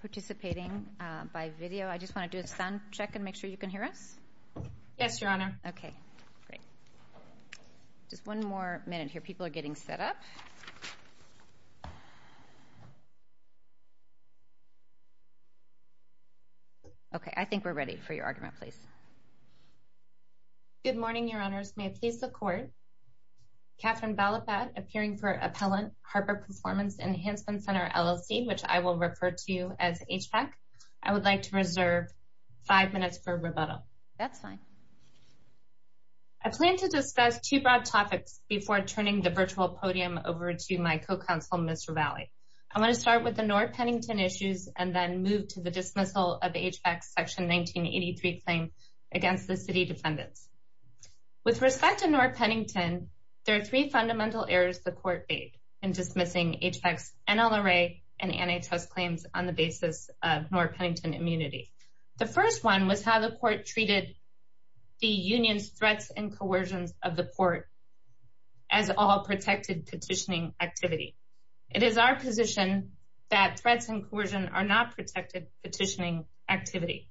Participating by video. I just want to do a sound check and make sure you can hear us. Yes, your honor. Okay, great. Just one more minute here. People are getting set up. Okay, I think we're ready for your argument, please. Good morning, your honors. May it please the court. Catherine Balafat appearing for Appellant Harbor Performance Enhancement Center LLC, which I will refer to as HVAC. I would like to reserve five minutes for rebuttal. That's fine. I plan to discuss two broad topics before turning the virtual podium over to my co-counsel, Ms. Ravalli. I want to start with the North Pennington issues and then move to the dismissal of HVAC section 1983 claim against the city defendants. With respect to North Pennington, there are three fundamental errors the court made in dismissing HVAC's NLRA and NHS claims on the basis of North Pennington immunity. The first one was how the court treated the union's threats and coercions of the court as all protected petitioning activity. It is our position that threats and coercion are not protected petitioning activity.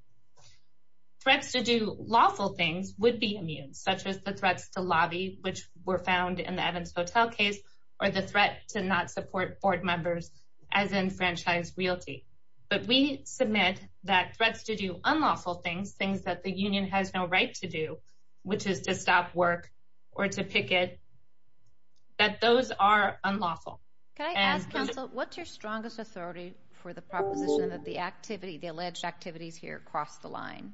Threats to do lawful things would be immune, such as the threats to lobby, which were found in the Evans Hotel case or the threat to not support board members as in franchise realty. But we submit that threats to do unlawful things, things that the union has no right to do, which is to stop work or to picket, that those are unlawful. Can I ask counsel, what's your strongest authority for the proposition of the activity, the alleged activities here across the line?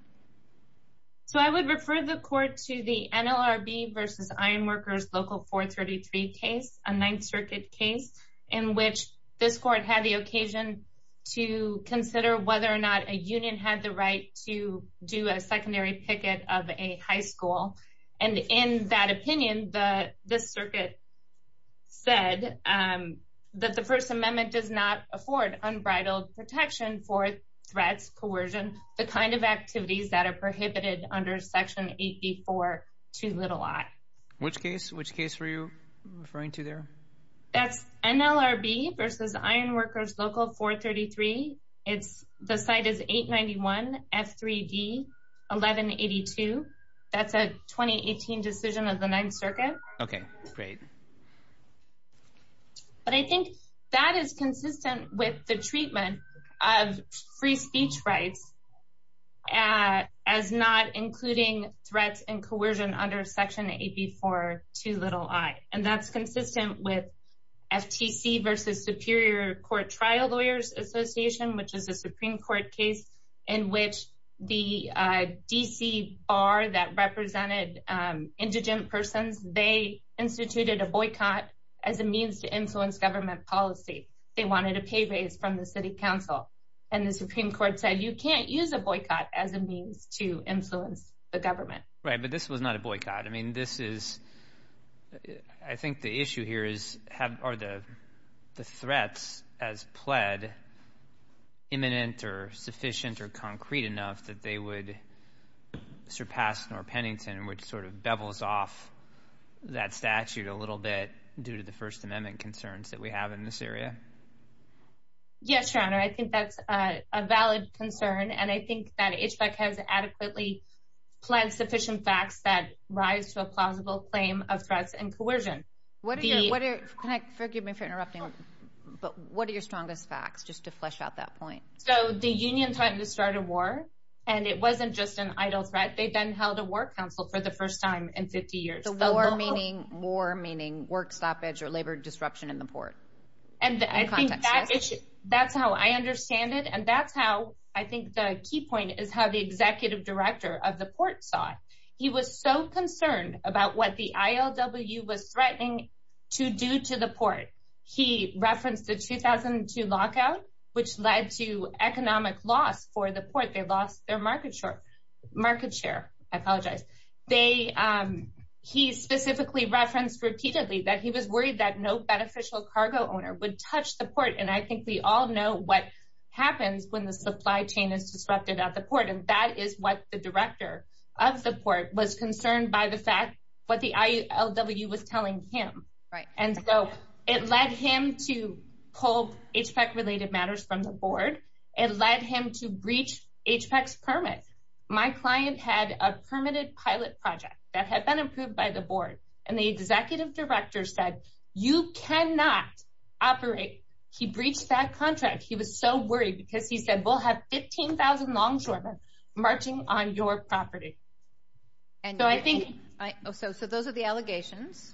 So I would refer the court to the NLRB versus Ironworkers Local 433 case, a Ninth Circuit case in which this court had the occasion to consider whether or not a union had the right to do a secondary picket of a high school. And in that opinion, the this circuit said that the First Amendment does not afford unbridled protection for threats, coercion, the kind of activities that are prohibited under Section 84 to little I. Which case, which case were you referring to there? That's NLRB versus Ironworkers Local 433. It's the site is 891 F3D 1182. That's a 2018 decision of the Ninth Circuit. OK, great. But I think that is consistent with the treatment of free speech rights as not including threats and coercion under Section 84 to little I, and that's consistent with FTC versus Superior Court Trial Lawyers Association, which is a Supreme Court case in which the DC bar that represented indigent persons, they instituted a boycott as a means to influence government policy. They wanted a pay raise from the city council. And the Supreme Court said you can't use a boycott as a means to influence the government. Right. But this was not a boycott. I mean, this is I think the issue here is how are the threats as pled imminent or sufficient or concrete enough that they would surpass Norr Pennington, which sort of bevels off that statute a little bit due to the First Amendment concerns that we have in this area? Yes, Your Honor, I think that's a valid concern, and I think that HVAC has adequately pled sufficient facts that rise to a plausible claim of threats and coercion. What do you want to connect? Forgive me for interrupting, but what are your strongest facts? Just to flesh out that point. So the union threatened to start a war and it wasn't just an idle threat. They then held a war council for the first time in 50 years. The war meaning war, meaning work stoppage or labor disruption in the port. And I think that's how I understand it. And that's how I think the key point is how the executive director of the port side. He was so concerned about what the IOW was threatening to do to the port. He referenced the 2002 lockout, which led to economic loss for the port. They lost their market share market share. I apologize. They he specifically referenced repeatedly that he was worried that no beneficial cargo owner would touch the port. And I think we all know what happens when the supply chain is disrupted at the port. And that is what the director of the port was concerned by the fact what the IOW was telling him. Right. And so it led him to pull HVAC related matters from the board. It led him to breach HVAC's permit. My client had a permitted pilot project that had been approved by the board. And the executive director said, you cannot operate. He breached that contract. He was so worried because he said, we'll have 15000 longshoremen marching on your property. And so I think so. So those are the allegations.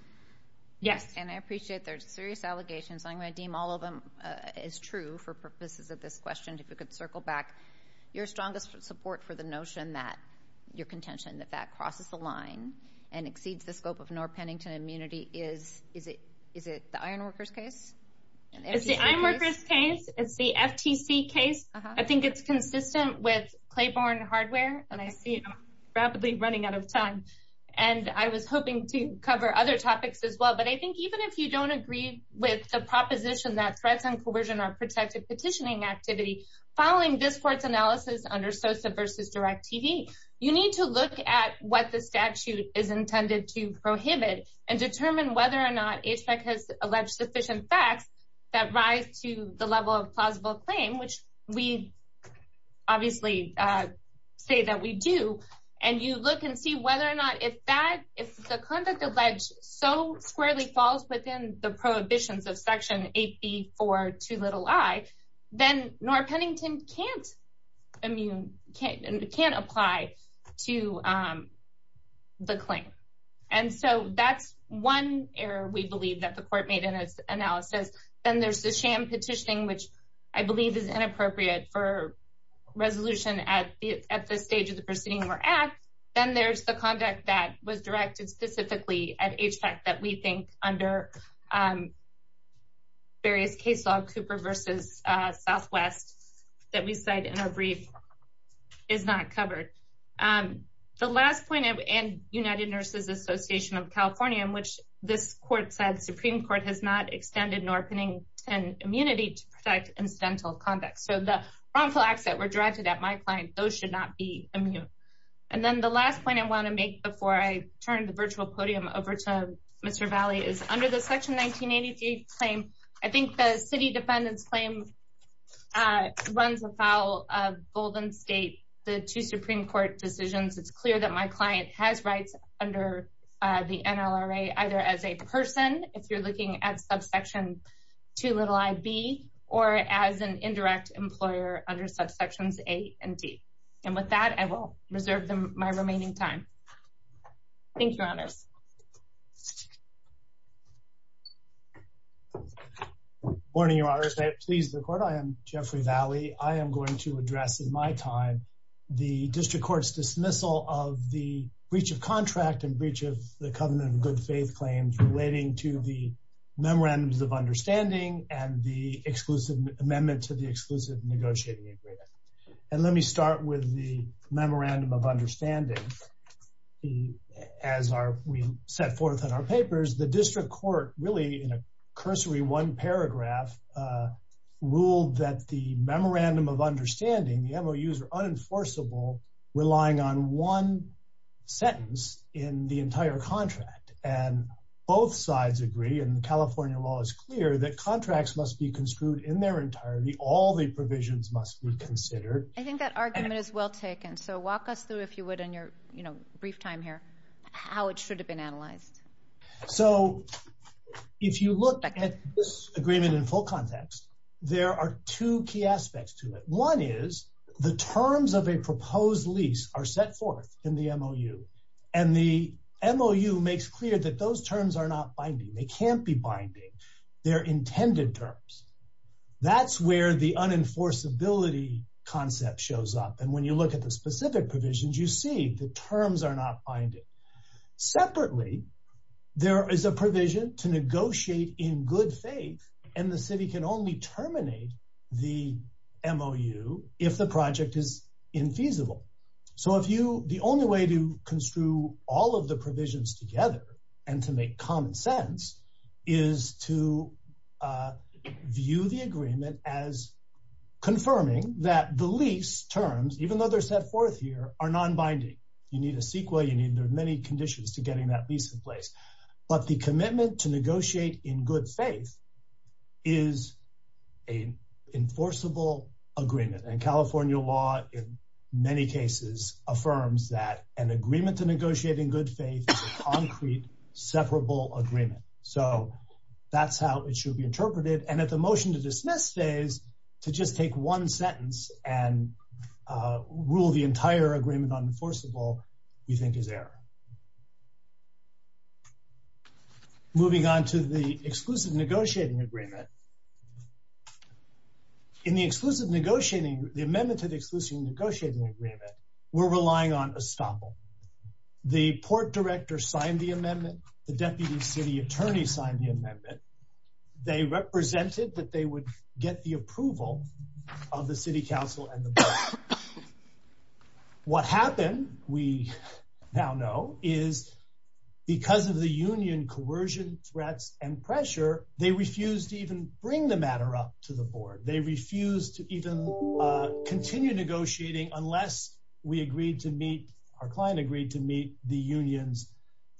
Yes. And I appreciate their serious allegations. I'm going to deem all of them is true for purposes of this question. And if we could circle back your strongest support for the notion that your contention that that crosses the line and exceeds the scope of North Pennington immunity is is it is it the iron workers case? It's the iron workers case. It's the FTC case. I think it's consistent with Claiborne hardware. And I see it rapidly running out of time. And I was hoping to cover other topics as well. But I think even if you don't agree with the proposition that threats and coercion are protected petitioning activity following this court's analysis under Sosa versus Direct TV, you need to look at what the statute is intended to prohibit and determine whether or not HVAC has alleged sufficient facts that rise to the level of plausible claim, which we obviously say that we do. And you look and see whether or not if that if the conduct alleged so squarely falls within the prohibitions of Section 84 to little I, then North Pennington can't immune can't can't apply to the claim. And so that's one error, we believe, that the court made in its analysis. Then there's the sham petitioning, which I believe is inappropriate for resolution at the at the stage of the proceeding or act. Then there's the conduct that was directed specifically at HVAC that we think under. Various case law, Cooper versus Southwest, that we said in our brief is not covered. The last point of and United Nurses Association of California, which this court said Supreme Court has not extended Northening and immunity to protect incidental conduct. So the wrongful acts that were directed at my client. Those should not be immune. And then the last point I want to make before I turn the virtual podium over to Mr Valley is under the section 1983 claim. I think the city defendants claim. I runs a foul of Golden State, the two Supreme Court decisions. It's clear that my client has rights under the NRA, either as a person. If you're looking at subsection to little I'd be or as an indirect employer under subsections eight and D. And with that, I will reserve them my remaining time. Thank you. And I'm going to turn it over to Mr Valley to address the district court's dismissal of the breach of contract and breach of the covenant of good faith claims relating to the memorandums of understanding and the exclusive amendment to the exclusive negotiating agreement. And let me start with the memorandum of understanding. We set forth in our papers, the district court really in a cursory one paragraph ruled that the memorandum of understanding the MOUs are unenforceable relying on one Sentence in the entire contract and both sides agree and California law is clear that contracts must be construed in their entirety. All the provisions must be considered I think that argument is well taken. So walk us through, if you would, in your, you know, brief time here, how it should have been analyzed. So if you look at this agreement in full context. There are two key aspects to it. One is the terms of a proposed lease are set forth in the MOU. And the MOU makes clear that those terms are not binding. They can't be binding their intended terms. That's where the unenforceability concept shows up. And when you look at the specific provisions you see the terms are not binding. Separately, there is a provision to negotiate in good faith and the city can only terminate the MOU if the project is infeasible. So if you, the only way to construe all of the provisions together and to make common sense is to View the agreement as confirming that the lease terms, even though they're set forth here are non binding. You need a sequel. You need many conditions to getting that lease in place. But the commitment to negotiate in good faith is a enforceable agreement and California law in many cases affirms that an agreement to negotiate in good faith. Separable agreement. So that's how it should be interpreted and at the motion to dismiss days to just take one sentence and rule the entire agreement on enforceable you think is error. Moving on to the exclusive negotiating agreement. In the exclusive negotiating the amendment to the exclusive negotiating agreement, we're relying on estoppel. The port director signed the amendment. The deputy city attorney signed the amendment. They represented that they would get the approval of the city council and What happened, we now know is because of the union coercion threats and pressure. They refuse to even bring the matter up to the board. They refuse to even Continue negotiating unless we agreed to meet our client agreed to meet the union's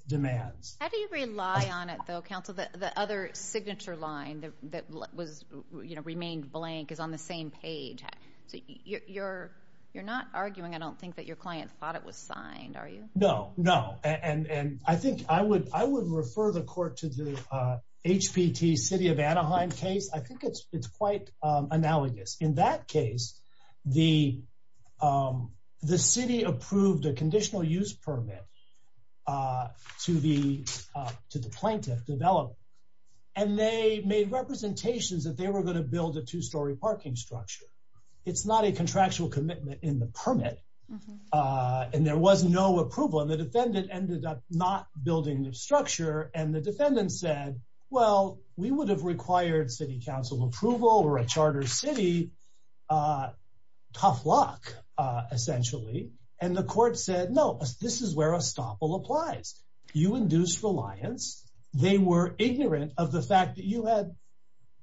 demands. How do you rely on it, though. Council that the other signature line that was, you know, remained blank is on the same page. So you're, you're not arguing. I don't think that your client thought it was signed. Are you No, no. And I think I would I would refer the court to the HPT city of Anaheim case. I think it's it's quite analogous. In that case, the The city approved a conditional use permit. To the to the plaintiff developed and they made representations that they were going to build a two story parking structure. It's not a contractual commitment in the permit. And there was no approval and the defendant ended up not building the structure and the defendant said, well, we would have required city council approval or a charter city. A tough luck, essentially, and the court said, no, this is where a stop will applies you induce reliance. They were ignorant of the fact that you had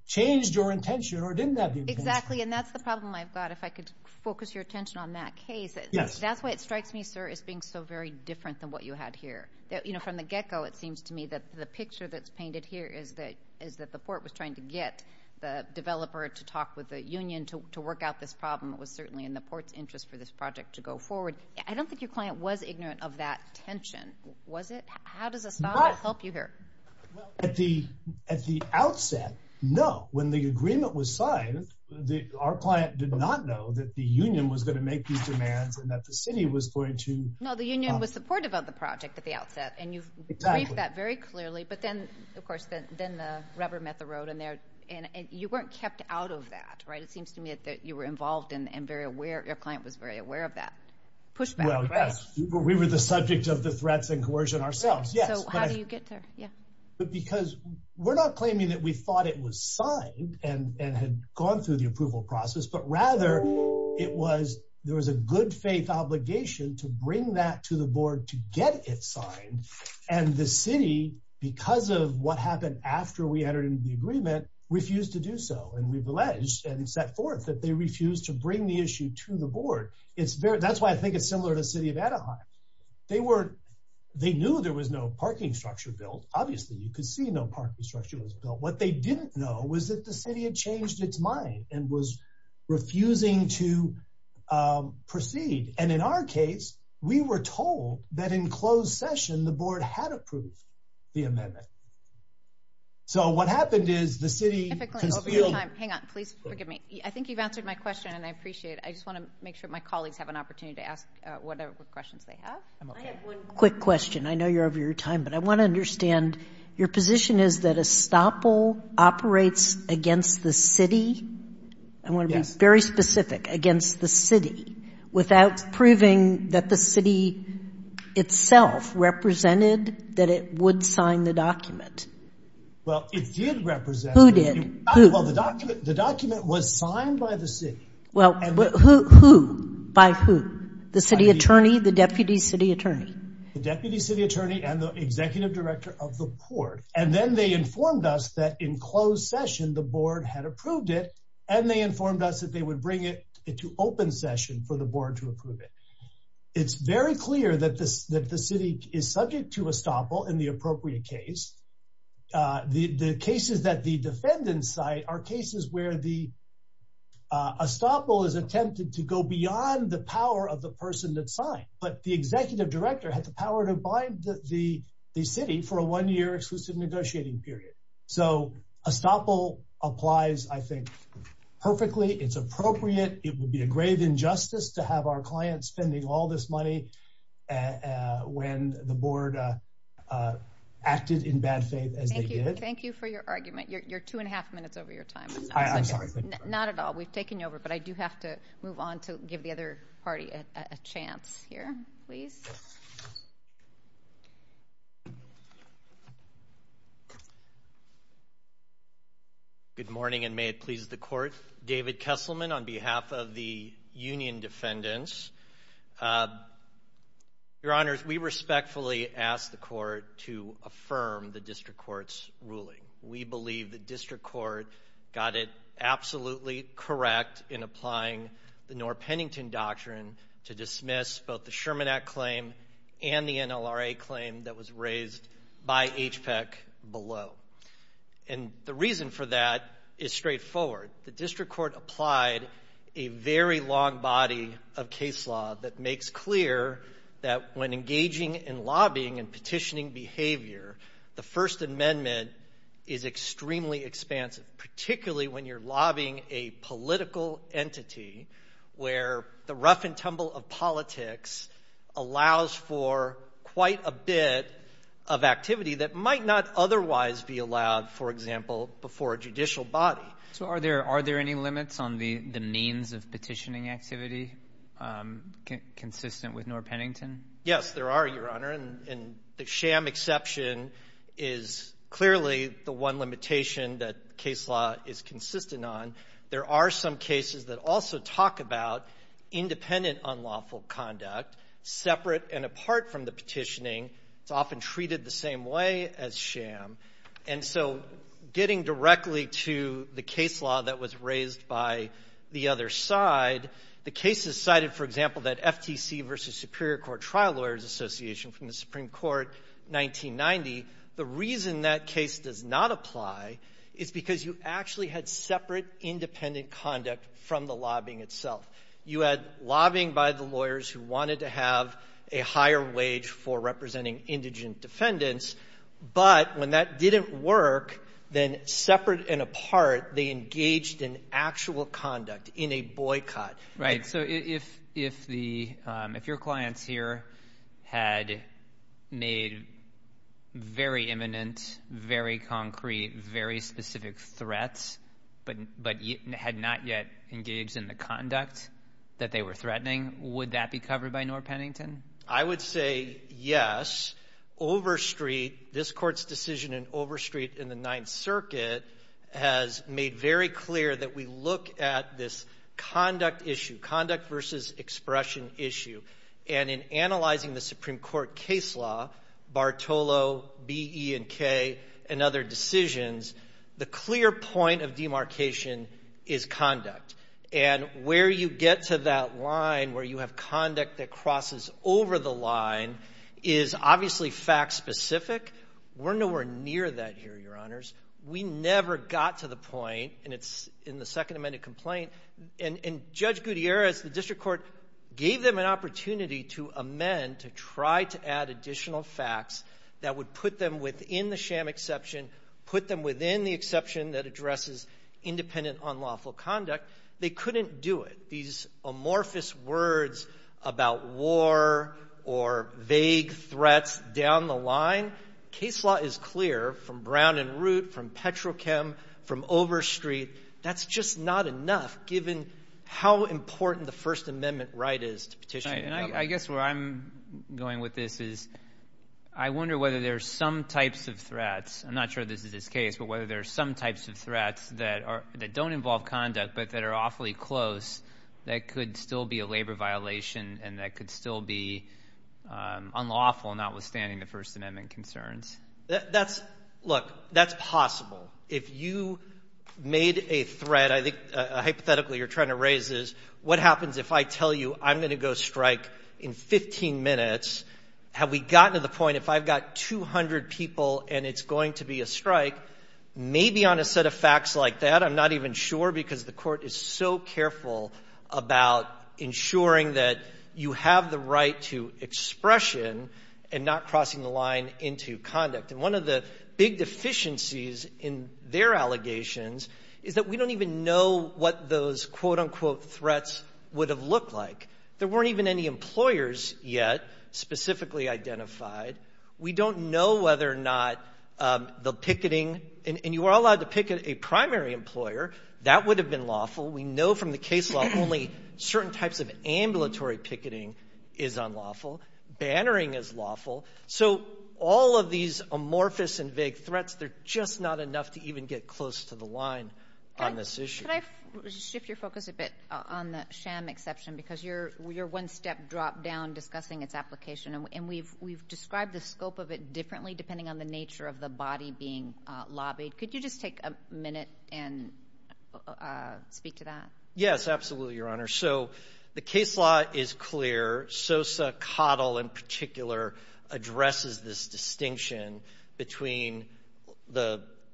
Changed your intention or didn't have exactly. And that's the problem. I've got if I could focus your attention on that case. That's why it strikes me, sir, is being so very different than what you had here that, you know, from the get go. It seems to me that the picture that's painted here is that Is that the port was trying to get the developer to talk with the union to work out this problem. It was certainly in the ports interest for this project to go forward. I don't think your client was ignorant of that tension was it. How does this not help you here. At the at the outset. No. When the agreement was signed the our client did not know that the union was going to make these demands and that the city was going to Know the union was supportive of the project at the outset and you've That very clearly. But then, of course, then the rubber met the road in there and you weren't kept out of that. Right. It seems to me that you were involved in and very aware of client was very aware of that. Push. Well, yes, we were the subject of the threats and coercion ourselves. Yeah. So how do you get there. Yeah. Well, I think it's very important that we bring that to the board to get it signed and the city because of what happened after we entered into the agreement refused to do so and we've alleged and set forth that they refuse to bring the issue to the board. It's very, that's why I think it's similar to city of Anaheim. They were they knew there was no parking structure built. Obviously, you could see no parking structure built what they didn't know was that the city had changed its mind and was refusing to And they were told that in closed session, the board had approved the amendment. So what happened is the city. Hang on, please forgive me. I think you've answered my question and I appreciate it. I just want to make sure my colleagues have an opportunity to ask whatever questions they have. I have one quick question. I know you're over your time, but I want to understand your position is that a stop all operates against the city. I want to be very specific against the city without proving that the city itself represented that it would sign the document. Well, it did represent who did the document. The document was signed by the city. Well, who by who the city attorney, the deputy city attorney, the deputy city attorney and the executive director of the port. And then they informed us that in closed session, the board had approved it and they informed us that they would bring it into open session for the board to approve it. It's very clear that this that the city is subject to a stop all in the appropriate case. The cases that the defendants site are cases where the. A stop all is attempted to go beyond the power of the person that signed, but the executive director had the power to bind the city for a one year exclusive negotiating period. So a stop all applies, I think. Perfectly, it's appropriate. It would be a grave injustice to have our clients spending all this money. When the board. Acted in bad faith. Thank you for your argument. You're two and a half minutes over your time. Not at all. We've taken over, but I do have to move on to give the other party a chance here, please. Thank you. Good morning and may it please the court. David Kesselman on behalf of the union defendants. Uh. Your honors, we respectfully ask the court to affirm the district court's ruling. We believe the district court got it absolutely correct in applying the Norr Pennington doctrine to dismiss both the Sherman Act claim and the NLRA claim that was raised by HPEC below. And the reason for that is straightforward. The district court applied a very long body of case law that makes clear that when engaging in lobbying and petitioning behavior, the First Amendment is extremely expansive, particularly when you're lobbying a political entity. Where the rough and tumble of politics allows for quite a bit of activity that might not otherwise be allowed, for example, before a judicial body. So are there are there any limits on the means of petitioning activity consistent with Norr Pennington? Yes, there are, Your Honor, and the sham exception is clearly the one limitation that case law is consistent on. There are some cases that also talk about independent unlawful conduct separate and apart from the petitioning. It's often treated the same way as sham. And so getting directly to the case law that was raised by the other side, the cases cited, for example, that FTC versus Superior Court Trial Lawyers Association from the Supreme Court, 1990, the reason that case does not apply is because you actually had separate, independent conduct from the lobbying itself. You had lobbying by the lawyers who wanted to have a higher wage for representing indigent defendants. But when that didn't work, then separate and apart, they engaged in actual conduct in a boycott. Right. So if if the if your clients here had made very imminent, very concrete, very specific threats, but but had not yet engaged in the conduct that they were threatening, would that be covered by Norr Pennington? I would say yes. Overstreet, this court's decision in Overstreet in the Ninth Circuit, has made very clear that we look at this conduct issue, conduct versus expression issue. And in analyzing the Supreme Court case law, Bartolo, B, E, and K, and other decisions, the clear point of demarcation is conduct. And where you get to that line where you have conduct that crosses over the line is obviously fact specific. We're nowhere near that here, your honors. We never got to the point. And it's in the second amended complaint. And Judge Gutierrez, the district court gave them an opportunity to amend to try to add additional facts that would put them within the sham exception, put them within the exception that addresses independent, unlawful conduct. They couldn't do it. These amorphous words about war or vague threats down the line. Case law is clear from Brown and Root, from Petrochem, from Overstreet. That's just not enough, given how important the First Amendment right is to petition. And I guess where I'm going with this is, I wonder whether there's some types of threats, I'm not sure this is his case, but whether there's some types of threats that don't involve conduct, but that are awfully close, that could still be a labor violation and that could still be unlawful, notwithstanding the First Amendment concerns. That's, look, that's possible. If you made a threat, I think, hypothetically, you're trying to raise is, what happens if I tell you I'm going to go strike in 15 minutes? Have we gotten to the point if I've got 200 people and it's going to be a strike, maybe on a set of facts like that, I'm not even sure because the court is so careful about ensuring that you have the right to expression and not crossing the line into conduct. And one of the big deficiencies in their allegations is that we don't even know what those quote-unquote threats would have looked like. There weren't even any employers yet specifically identified. We don't know whether or not the picketing, and you are allowed to picket a primary employer, that would have been lawful. We know from the case law only certain types of ambulatory picketing is unlawful. Bannering is lawful. So all of these amorphous and vague threats, they're just not enough to even get close to the line on this issue. Could I shift your focus a bit on the sham exception because you're one step drop down discussing its application and we've described the scope of it differently depending on the nature of the body being lobbied. Could you just take a minute and speak to that? Yes, absolutely, Your Honor. So the case law is clear. Sosa Coddle in particular addresses this distinction between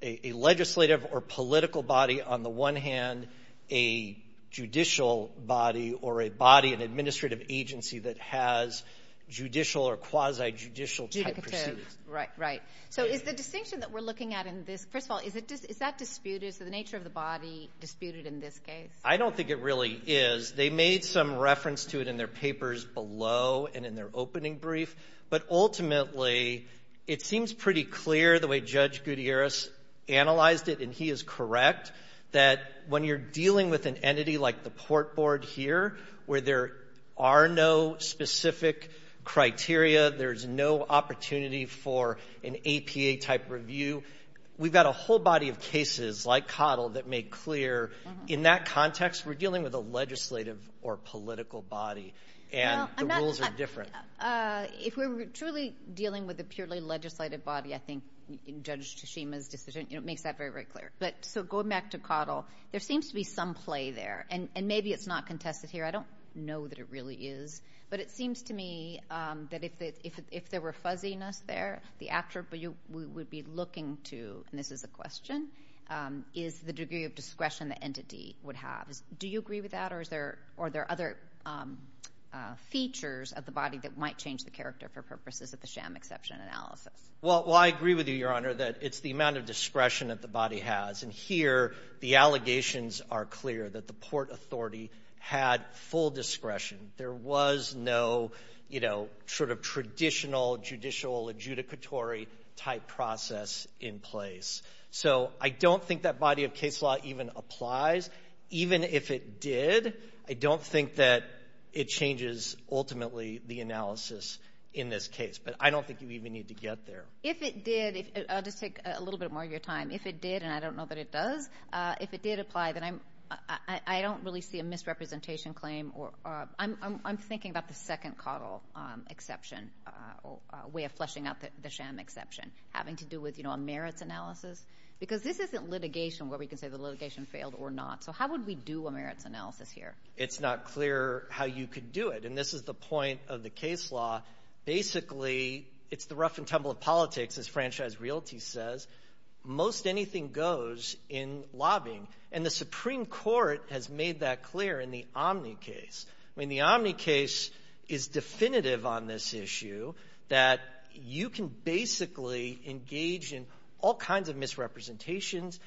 a legislative or political body on the one hand, a judicial body or a body, an administrative agency that has judicial or quasi-judicial type procedures. Right, right. So is the distinction that we're looking at in this, first of all, is that disputed? Is the nature of the body disputed in this case? I don't think it really is. They made some reference to it in their papers below and in their opening brief. But ultimately, it seems pretty clear the way Judge Gutierrez analyzed it, and he is correct, that when you're dealing with an entity like the Port Board here, where there are no specific criteria, there's no opportunity for an APA type review, we've got a whole body of cases like Coddle that make clear, in that context, we're dealing with a legislative or political body, and the rules are different. If we're truly dealing with a purely legislative body, I think Judge Tsushima's decision makes that very, very clear. So going back to Coddle, there seems to be some play there, and maybe it's not contested here. I don't know that it really is. But it seems to me that if there were fuzziness there, the attribute we would be looking to, and this is a question, is the degree of discretion the entity would have. Do you agree with that, or are there other features of the body that might change the character for purposes of the sham exception analysis? Well, I agree with you, Your Honor, that it's the amount of discretion that the body has. And here, the allegations are clear that the Port Authority had full discretion. There was no sort of traditional judicial adjudicatory type process in place. So I don't think that body of case law even applies. Even if it did, I don't think that it changes, ultimately, the analysis in this case. But I don't think you even need to get there. If it did, I'll just take a little bit more of your time. If it did, and I don't know that it does, if it did apply, then I don't really see a misrepresentation claim. I'm thinking about the second Coddle exception, way of fleshing out the sham exception, having to do with a merits analysis. Because this isn't litigation where we can say the litigation failed or not. So how would we do a merits analysis here? It's not clear how you could do it. And this is the point of the case law. Basically, it's the rough and tumble of politics, as Franchise Realty says. Most anything goes in lobbying. And the Supreme Court has made that clear in the Omni case. I mean, the Omni case is definitive on this issue that you can basically engage in all kinds of misrepresentations.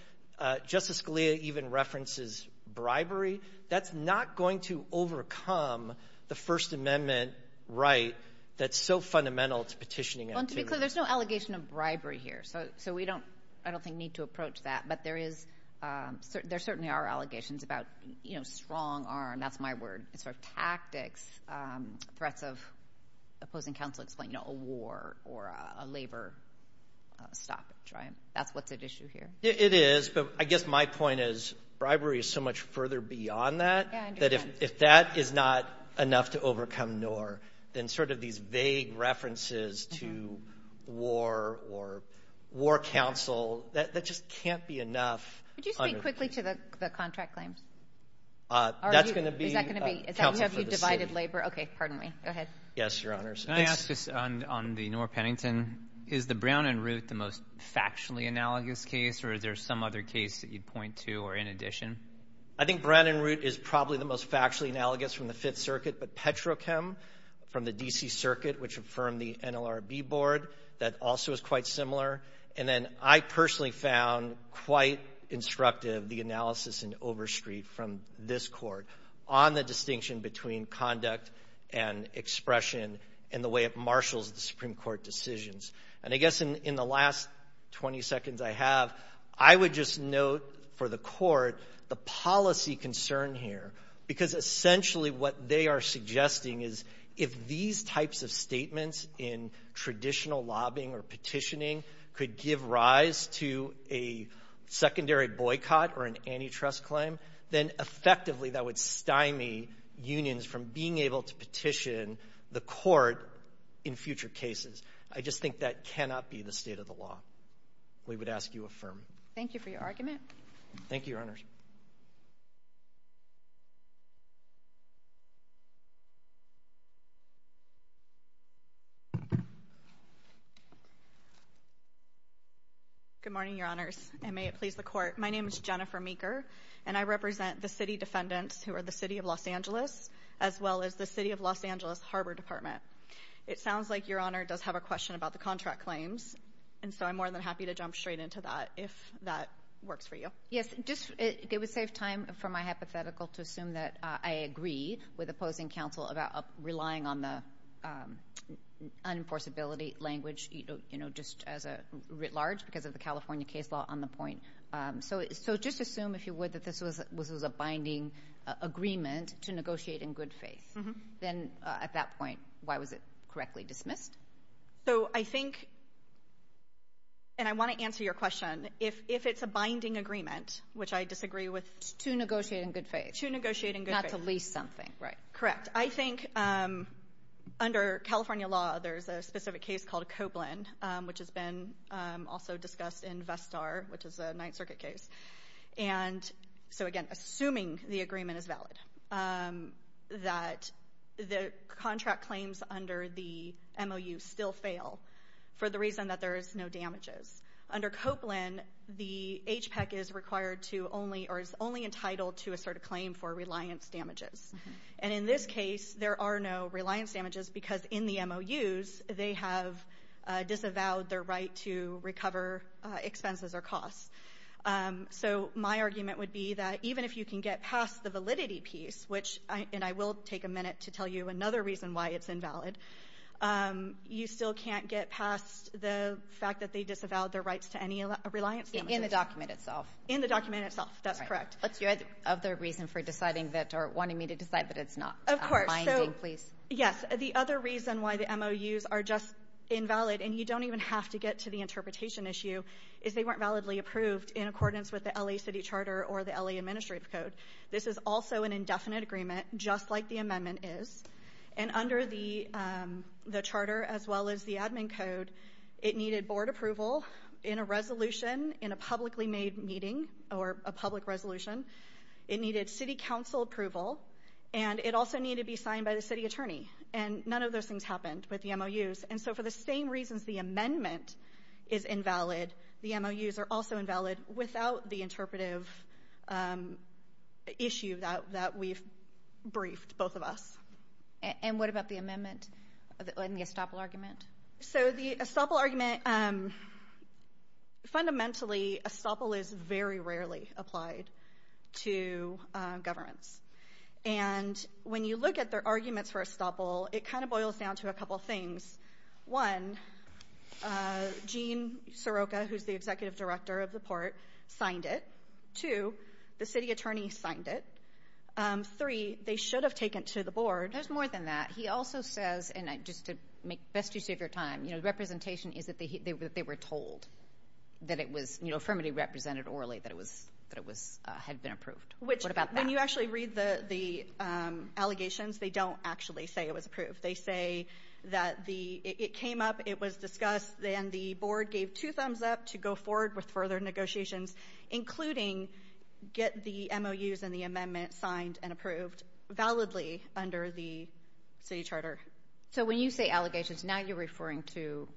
Justice Scalia even references bribery. That's not going to overcome the First Amendment right that's so fundamental to petitioning activity. So there's no allegation of bribery here. So we don't, I don't think, need to approach that. But there certainly are allegations about strong arm, that's my word, tactics, threats of opposing counsel, a war or a labor stoppage. That's what's at issue here. It is. But I guess my point is bribery is so much further beyond that, that if that is not enough to overcome NOR, then sort of these vague references to war or war counsel, that just can't be enough. Could you speak quickly to the contract claims? That's going to be counsel for the city. Yes, Your Honors. Can I ask this on the NOR Pennington? Is the Brown and Root the most factually analogous case or is there some other case that you'd point to or in addition? I think Brown and Root is probably the most factually analogous from the Fifth Circuit, but Petrochem from the D.C. Circuit, which affirmed the NLRB board, that also is quite similar. And then I personally found quite instructive the analysis in Overstreet from this court on the distinction between conduct and expression and the way it marshals the Supreme Court decisions. And I guess in the last 20 seconds I have, I would just note for the court the policy concern here, because essentially what they are suggesting is if these types of statements in traditional lobbying or petitioning could give rise to a secondary boycott or an antitrust claim, then effectively that would stymie unions from being able to petition the court in future cases. I just think that cannot be the state of the law. We would ask you affirm. Thank you for your argument. Thank you, Your Honors. Good morning, Your Honors, and may it please the court. My name is Jennifer Meeker and I represent the city defendants who are the City of Los Angeles as well as the City of Los Angeles Harbor Department. It sounds like Your Honor does have a question about the contract claims, and so I'm more than happy to jump straight into that if that works for you. Yes, just it would save time for my hypothetical to assume that I agree with opposing counsel about relying on the unenforceability language, you know, just as a writ large because of the California case law on the point. So just assume, if you would, that this was a binding agreement to negotiate in good faith. Then at that point, why was it correctly dismissed? So I think, and I want to answer your question, if it's a binding agreement, which I disagree with. To negotiate in good faith. To negotiate in good faith. Not to lease something, right. Correct. I think under California law, there's a specific case called Copeland, which has been also discussed in Vestar, which is a Ninth Circuit case. And so again, assuming the agreement is valid, that the contract claims under the MOU still fail for the reason that there is no damages. Under Copeland, the HPEC is required to only, or is only entitled to assert a claim for reliance damages. And in this case, there are no reliance damages because in the MOUs, they have disavowed their right to recover expenses or costs. So my argument would be that even if you can get past the validity piece, which, and I will take a minute to tell you another reason why it's invalid, you still can't get past the fact that they disavowed their rights to any reliance damages. In the document itself. In the document itself. That's correct. What's your other reason for deciding that, or wanting me to decide that it's not binding, please? Of course. Yes. The other reason why the MOUs are just invalid, and you don't even have to get to the interpretation issue, is they weren't validly approved in accordance with the L.A. City Charter or the L.A. Administrative Code. This is also an indefinite agreement, just like the amendment is. And under the charter, as well as the admin code, it needed board approval in a resolution, in a publicly made meeting, or a public resolution. It needed city council approval, and it also needed to be signed by the city attorney. And none of those things happened with the MOUs. And so for the same reasons the amendment is invalid, the MOUs are also invalid without the interpretive issue that we've briefed, both of us. And what about the amendment, the estoppel argument? So the estoppel argument, fundamentally, estoppel is very rarely applied to governments. And when you look at their arguments for estoppel, it kind of boils down to a couple things. One, Gene Soroka, who's the executive director of the port, signed it. Two, the city attorney signed it. Three, they should have taken it to the board. There's more than that. He also says, and just to best you save your time, representation is that they were told that it was firmly represented orally, that it had been approved. What about that? When you actually read the allegations, they don't actually say it was approved. They say that it came up, it was discussed, and the board gave two thumbs up to go forward with further negotiations, including get the MOUs and the amendment signed and approved validly under the city charter. So when you say allegations, now you're referring to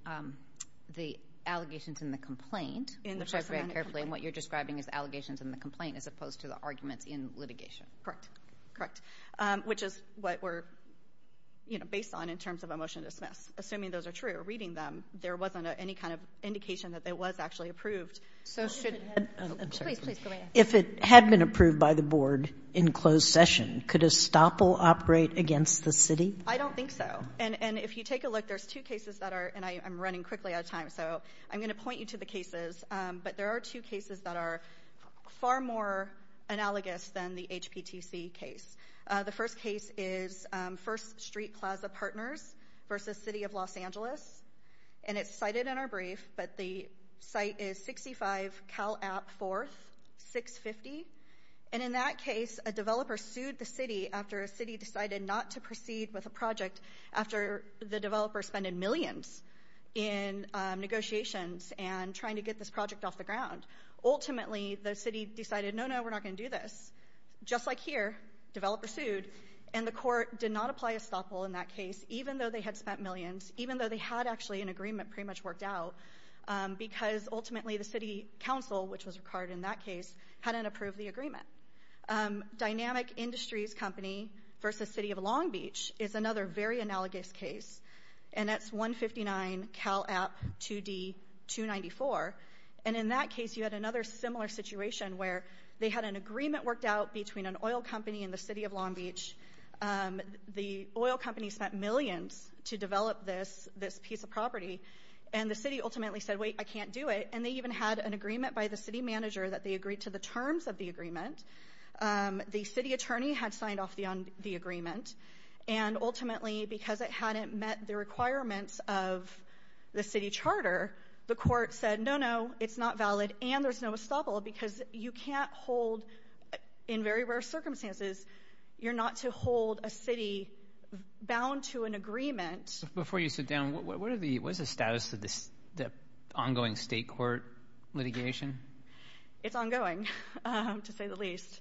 the allegations in the complaint. And what you're describing is allegations in the complaint as opposed to the arguments in litigation. Correct. Which is what we're based on in terms of a motion to dismiss. Assuming those are true, reading them, there wasn't any kind of indication that it was actually approved. If it had been approved by the board in closed session, could estoppel operate against the city? I don't think so. And if you take a look, there's two cases that are, and I'm running quickly out of time, so I'm going to point you to the cases. But there are two cases that are far more analogous than the HPTC case. The first case is First Street Plaza Partners versus City of Los Angeles. And it's cited in our brief, but the site is 65 Cal App 4, 650. And in that case, a developer sued the city after a city decided not to proceed with a project after the developer spent millions in negotiations and trying to get this project off the ground. Ultimately, the city decided, no, no, we're not going to do this. Just like here, developer sued, and the court did not apply estoppel in that case, even though they had spent millions, even though they had actually an agreement pretty much worked out, because ultimately the city council, which was required in that case, hadn't approved the agreement. Dynamic Industries Company versus City of Long Beach is another very analogous case, and that's 159 Cal App 2D 294. And in that case, you had another similar situation where they had an agreement worked out between an oil company and the City of Long Beach. The oil company spent millions to develop this piece of property, and the city ultimately said, wait, I can't do it. And they even had an agreement by the city manager that they agreed to the terms of the agreement. The city attorney had signed off the agreement, and ultimately because it hadn't met the requirements of the city charter, the court said, no, no, it's not valid, and there's no estoppel because you can't hold, in very rare circumstances, you're not to hold a city bound to an agreement. Before you sit down, what is the status of the ongoing state court litigation? It's ongoing, to say the least.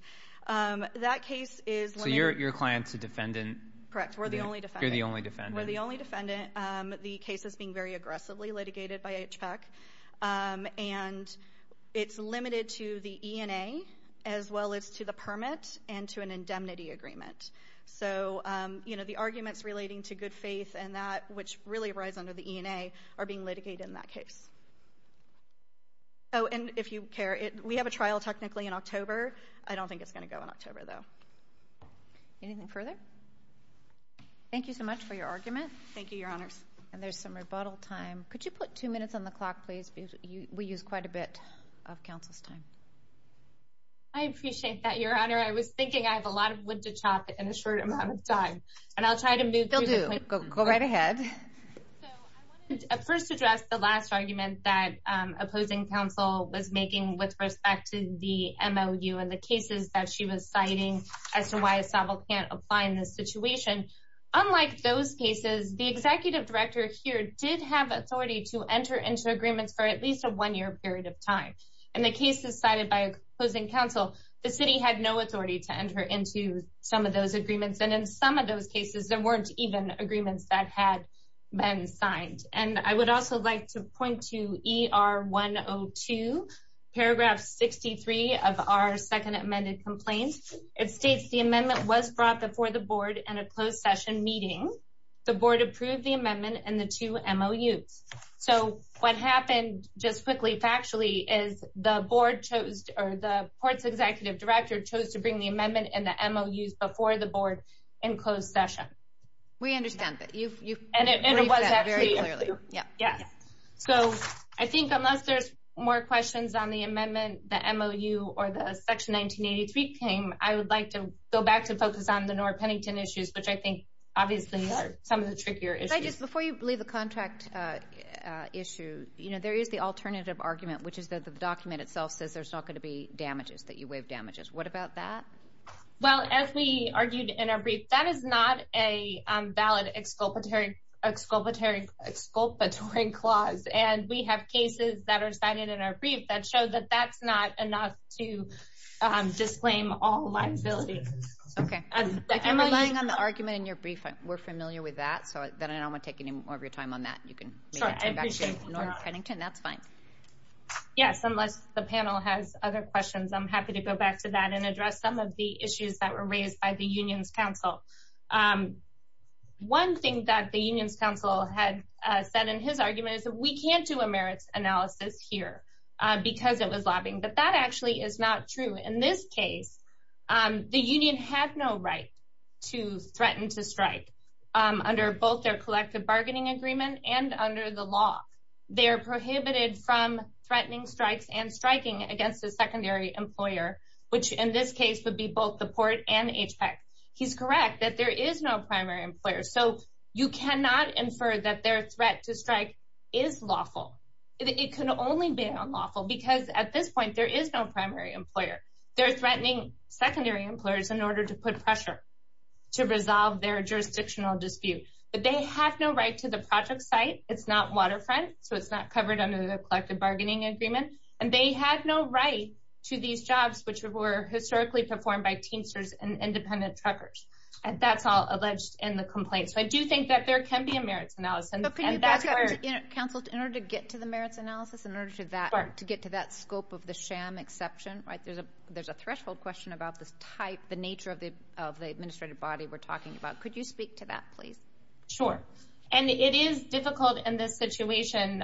So your client's a defendant? Correct, we're the only defendant. You're the only defendant. We're the only defendant. The case is being very aggressively litigated by HPAC, and it's limited to the ENA as well as to the permit and to an indemnity agreement. So the arguments relating to good faith and that, which really rise under the ENA, are being litigated in that case. Oh, and if you care, we have a trial technically in October. I don't think it's going to go in October, though. Anything further? Thank you so much for your argument. Thank you, Your Honors. And there's some rebuttal time. Could you put two minutes on the clock, please? We use quite a bit of counsel's time. I appreciate that, Your Honor. I was thinking I have a lot of wood to chop in a short amount of time, and I'll try to move through the questions. Go right ahead. I want to first address the last argument that opposing counsel was making with respect to the MOU and the cases that she was citing as to why Estavo can't apply in this situation. Unlike those cases, the executive director here did have authority to enter into agreements for at least a one-year period of time. In the cases cited by opposing counsel, the city had no authority to enter into some of those agreements. And in some of those cases, there weren't even agreements that had been signed. And I would also like to point to ER 102, paragraph 63 of our second amended complaint. It states the amendment was brought before the board in a closed session meeting. The board approved the amendment and the two MOUs. So what happened just quickly factually is the board chose or the court's executive director chose to bring the amendment and the MOUs before the board in closed session. We understand that. And it was actually approved. So I think unless there's more questions on the amendment, the MOU, or the section 1983 came, I would like to go back to focus on the North Pennington issues, which I think obviously are some of the trickier issues. Before you leave the contract issue, there is the alternative argument, which is that the document itself says there's not going to be damages, that you waive damages. What about that? Well, as we argued in our brief, that is not a valid exculpatory clause. And we have cases that are cited in our brief that show that that's not enough to disclaim all liabilities. Okay. If you're relying on the argument in your brief, we're familiar with that. So then I don't want to take any more of your time on that. You can turn back to North Pennington. That's fine. Yes, unless the panel has other questions. I'm happy to go back to that and address some of the issues that were raised by the unions council. One thing that the unions council had said in his argument is that we can't do a merits analysis here because it was lobbying. But that actually is not true. In this case, the union had no right to threaten to strike under both their collective bargaining agreement and under the law. They are prohibited from threatening strikes and striking against a secondary employer, which in this case would be both the port and HPEC. He's correct that there is no primary employer. So you cannot infer that their threat to strike is lawful. It can only be unlawful because at this point there is no primary employer. They're threatening secondary employers in order to put pressure to resolve their jurisdictional dispute. But they have no right to the project site. It's not waterfront, so it's not covered under the collective bargaining agreement. And they have no right to these jobs, which were historically performed by teensters and independent truckers. And that's all alleged in the complaint. So I do think that there can be a merits analysis. Counsel, in order to get to the merits analysis, in order to get to that scope of the sham exception, there's a threshold question about the type, the nature of the administrative body we're talking about. Could you speak to that, please? Sure. And it is difficult in this situation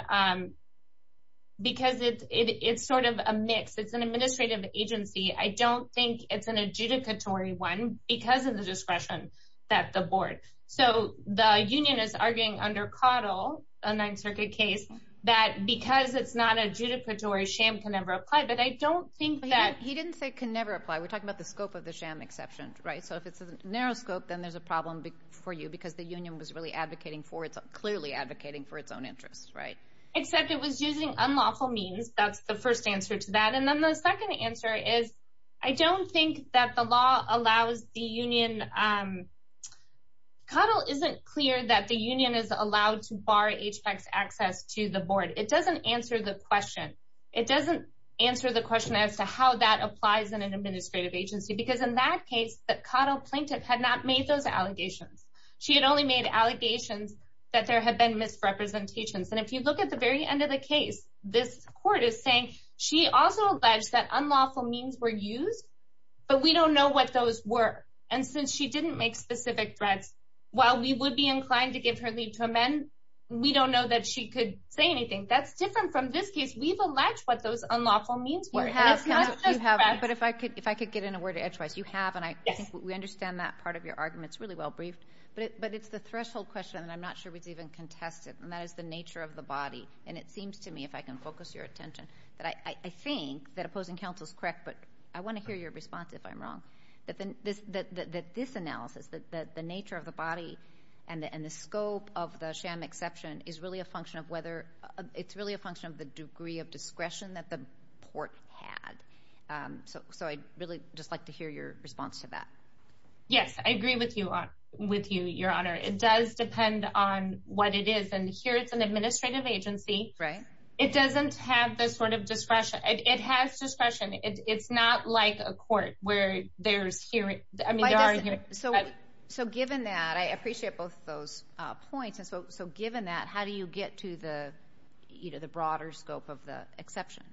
because it's sort of a mix. It's an administrative agency. I don't think it's an adjudicatory one because of the discretion that the board. So the union is arguing under Caudill, a Ninth Circuit case, that because it's not adjudicatory, sham can never apply. But I don't think that. He didn't say can never apply. We're talking about the scope of the sham exception, right? So if it's a narrow scope, then there's a problem for you because the union was really advocating for it, clearly advocating for its own interests, right? Except it was using unlawful means. That's the first answer to that. And then the second answer is I don't think that the law allows the union. Caudill isn't clear that the union is allowed to bar HBACs access to the board. It doesn't answer the question. It doesn't answer the question as to how that applies in an administrative agency because in that case, the Caudill plaintiff had not made those allegations. She had only made allegations that there had been misrepresentations. And if you look at the very end of the case, this court is saying she also alleged that unlawful means were used, but we don't know what those were. And since she didn't make specific threats, while we would be inclined to give her leave to amend, we don't know that she could say anything. That's different from this case. We've alleged what those unlawful means were. And it's not just threats. But if I could get in a word edgewise. You have, and I think we understand that part of your argument. It's really well briefed. But it's the threshold question, and I'm not sure it's even contested. And that is the nature of the body. And it seems to me, if I can focus your attention, that I think that opposing counsel is correct, but I want to hear your response if I'm wrong. That this analysis, that the nature of the body and the scope of the sham exception is really a function of whether it's really a function of the degree of discretion that the court had. So I'd really just like to hear your response to that. Yes, I agree with you, Your Honor. It does depend on what it is. And here it's an administrative agency. Right. It doesn't have this sort of discretion. It has discretion. It's not like a court where there's hearing. So given that, I appreciate both those points. And so given that, how do you get to the broader scope of the exception?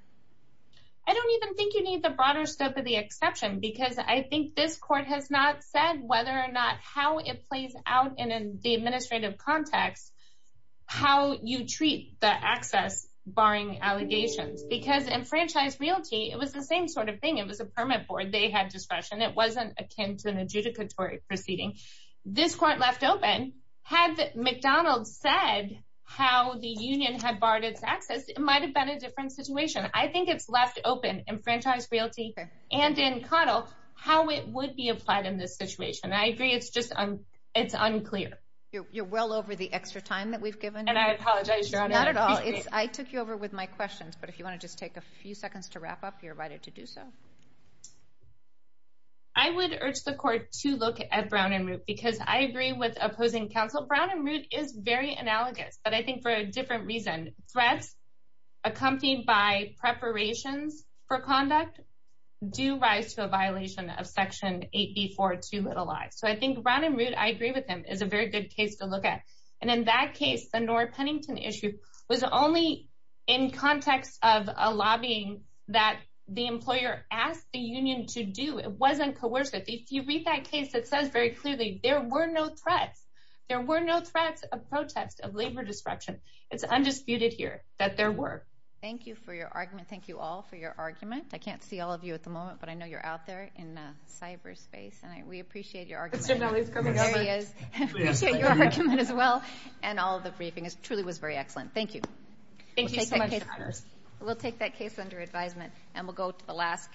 I don't even think you need the broader scope of the exception, because I think this court has not said whether or not how it plays out in the administrative context, how you treat the access barring allegations. Because enfranchised realty, it was the same sort of thing. It was a permit board. They had discretion. It wasn't akin to an adjudicatory proceeding. This court left open. Had McDonald's said how the union had barred its access, it might have been a different situation. I think it's left open in enfranchised realty and in Caudill how it would be applied in this situation. And I agree it's unclear. You're well over the extra time that we've given you. And I apologize, Your Honor. Not at all. I took you over with my questions. But if you want to just take a few seconds to wrap up, you're invited to do so. I would urge the court to look at Brown and Root, because I agree with opposing counsel. Brown and Root is very analogous, but I think for a different reason. Threats accompanied by preparations for conduct do rise to a violation of Section 8B-4-2-i. So I think Brown and Root, I agree with them, is a very good case to look at. And in that case, the Nora Pennington issue was only in context of a lobbying that the employer asked the union to do. It wasn't coercive. If you read that case, it says very clearly there were no threats. There were no threats of protest, of labor disruption. It's undisputed here that there were. Thank you for your argument. Thank you all for your argument. I can't see all of you at the moment, but I know you're out there in the cyberspace. And we appreciate your argument. Mr. McNally is coming over. There he is. We appreciate your argument as well. And all of the briefing truly was very excellent. Thank you. Thank you so much, Your Honors. We'll take that case under advisement. And we'll go to the last case.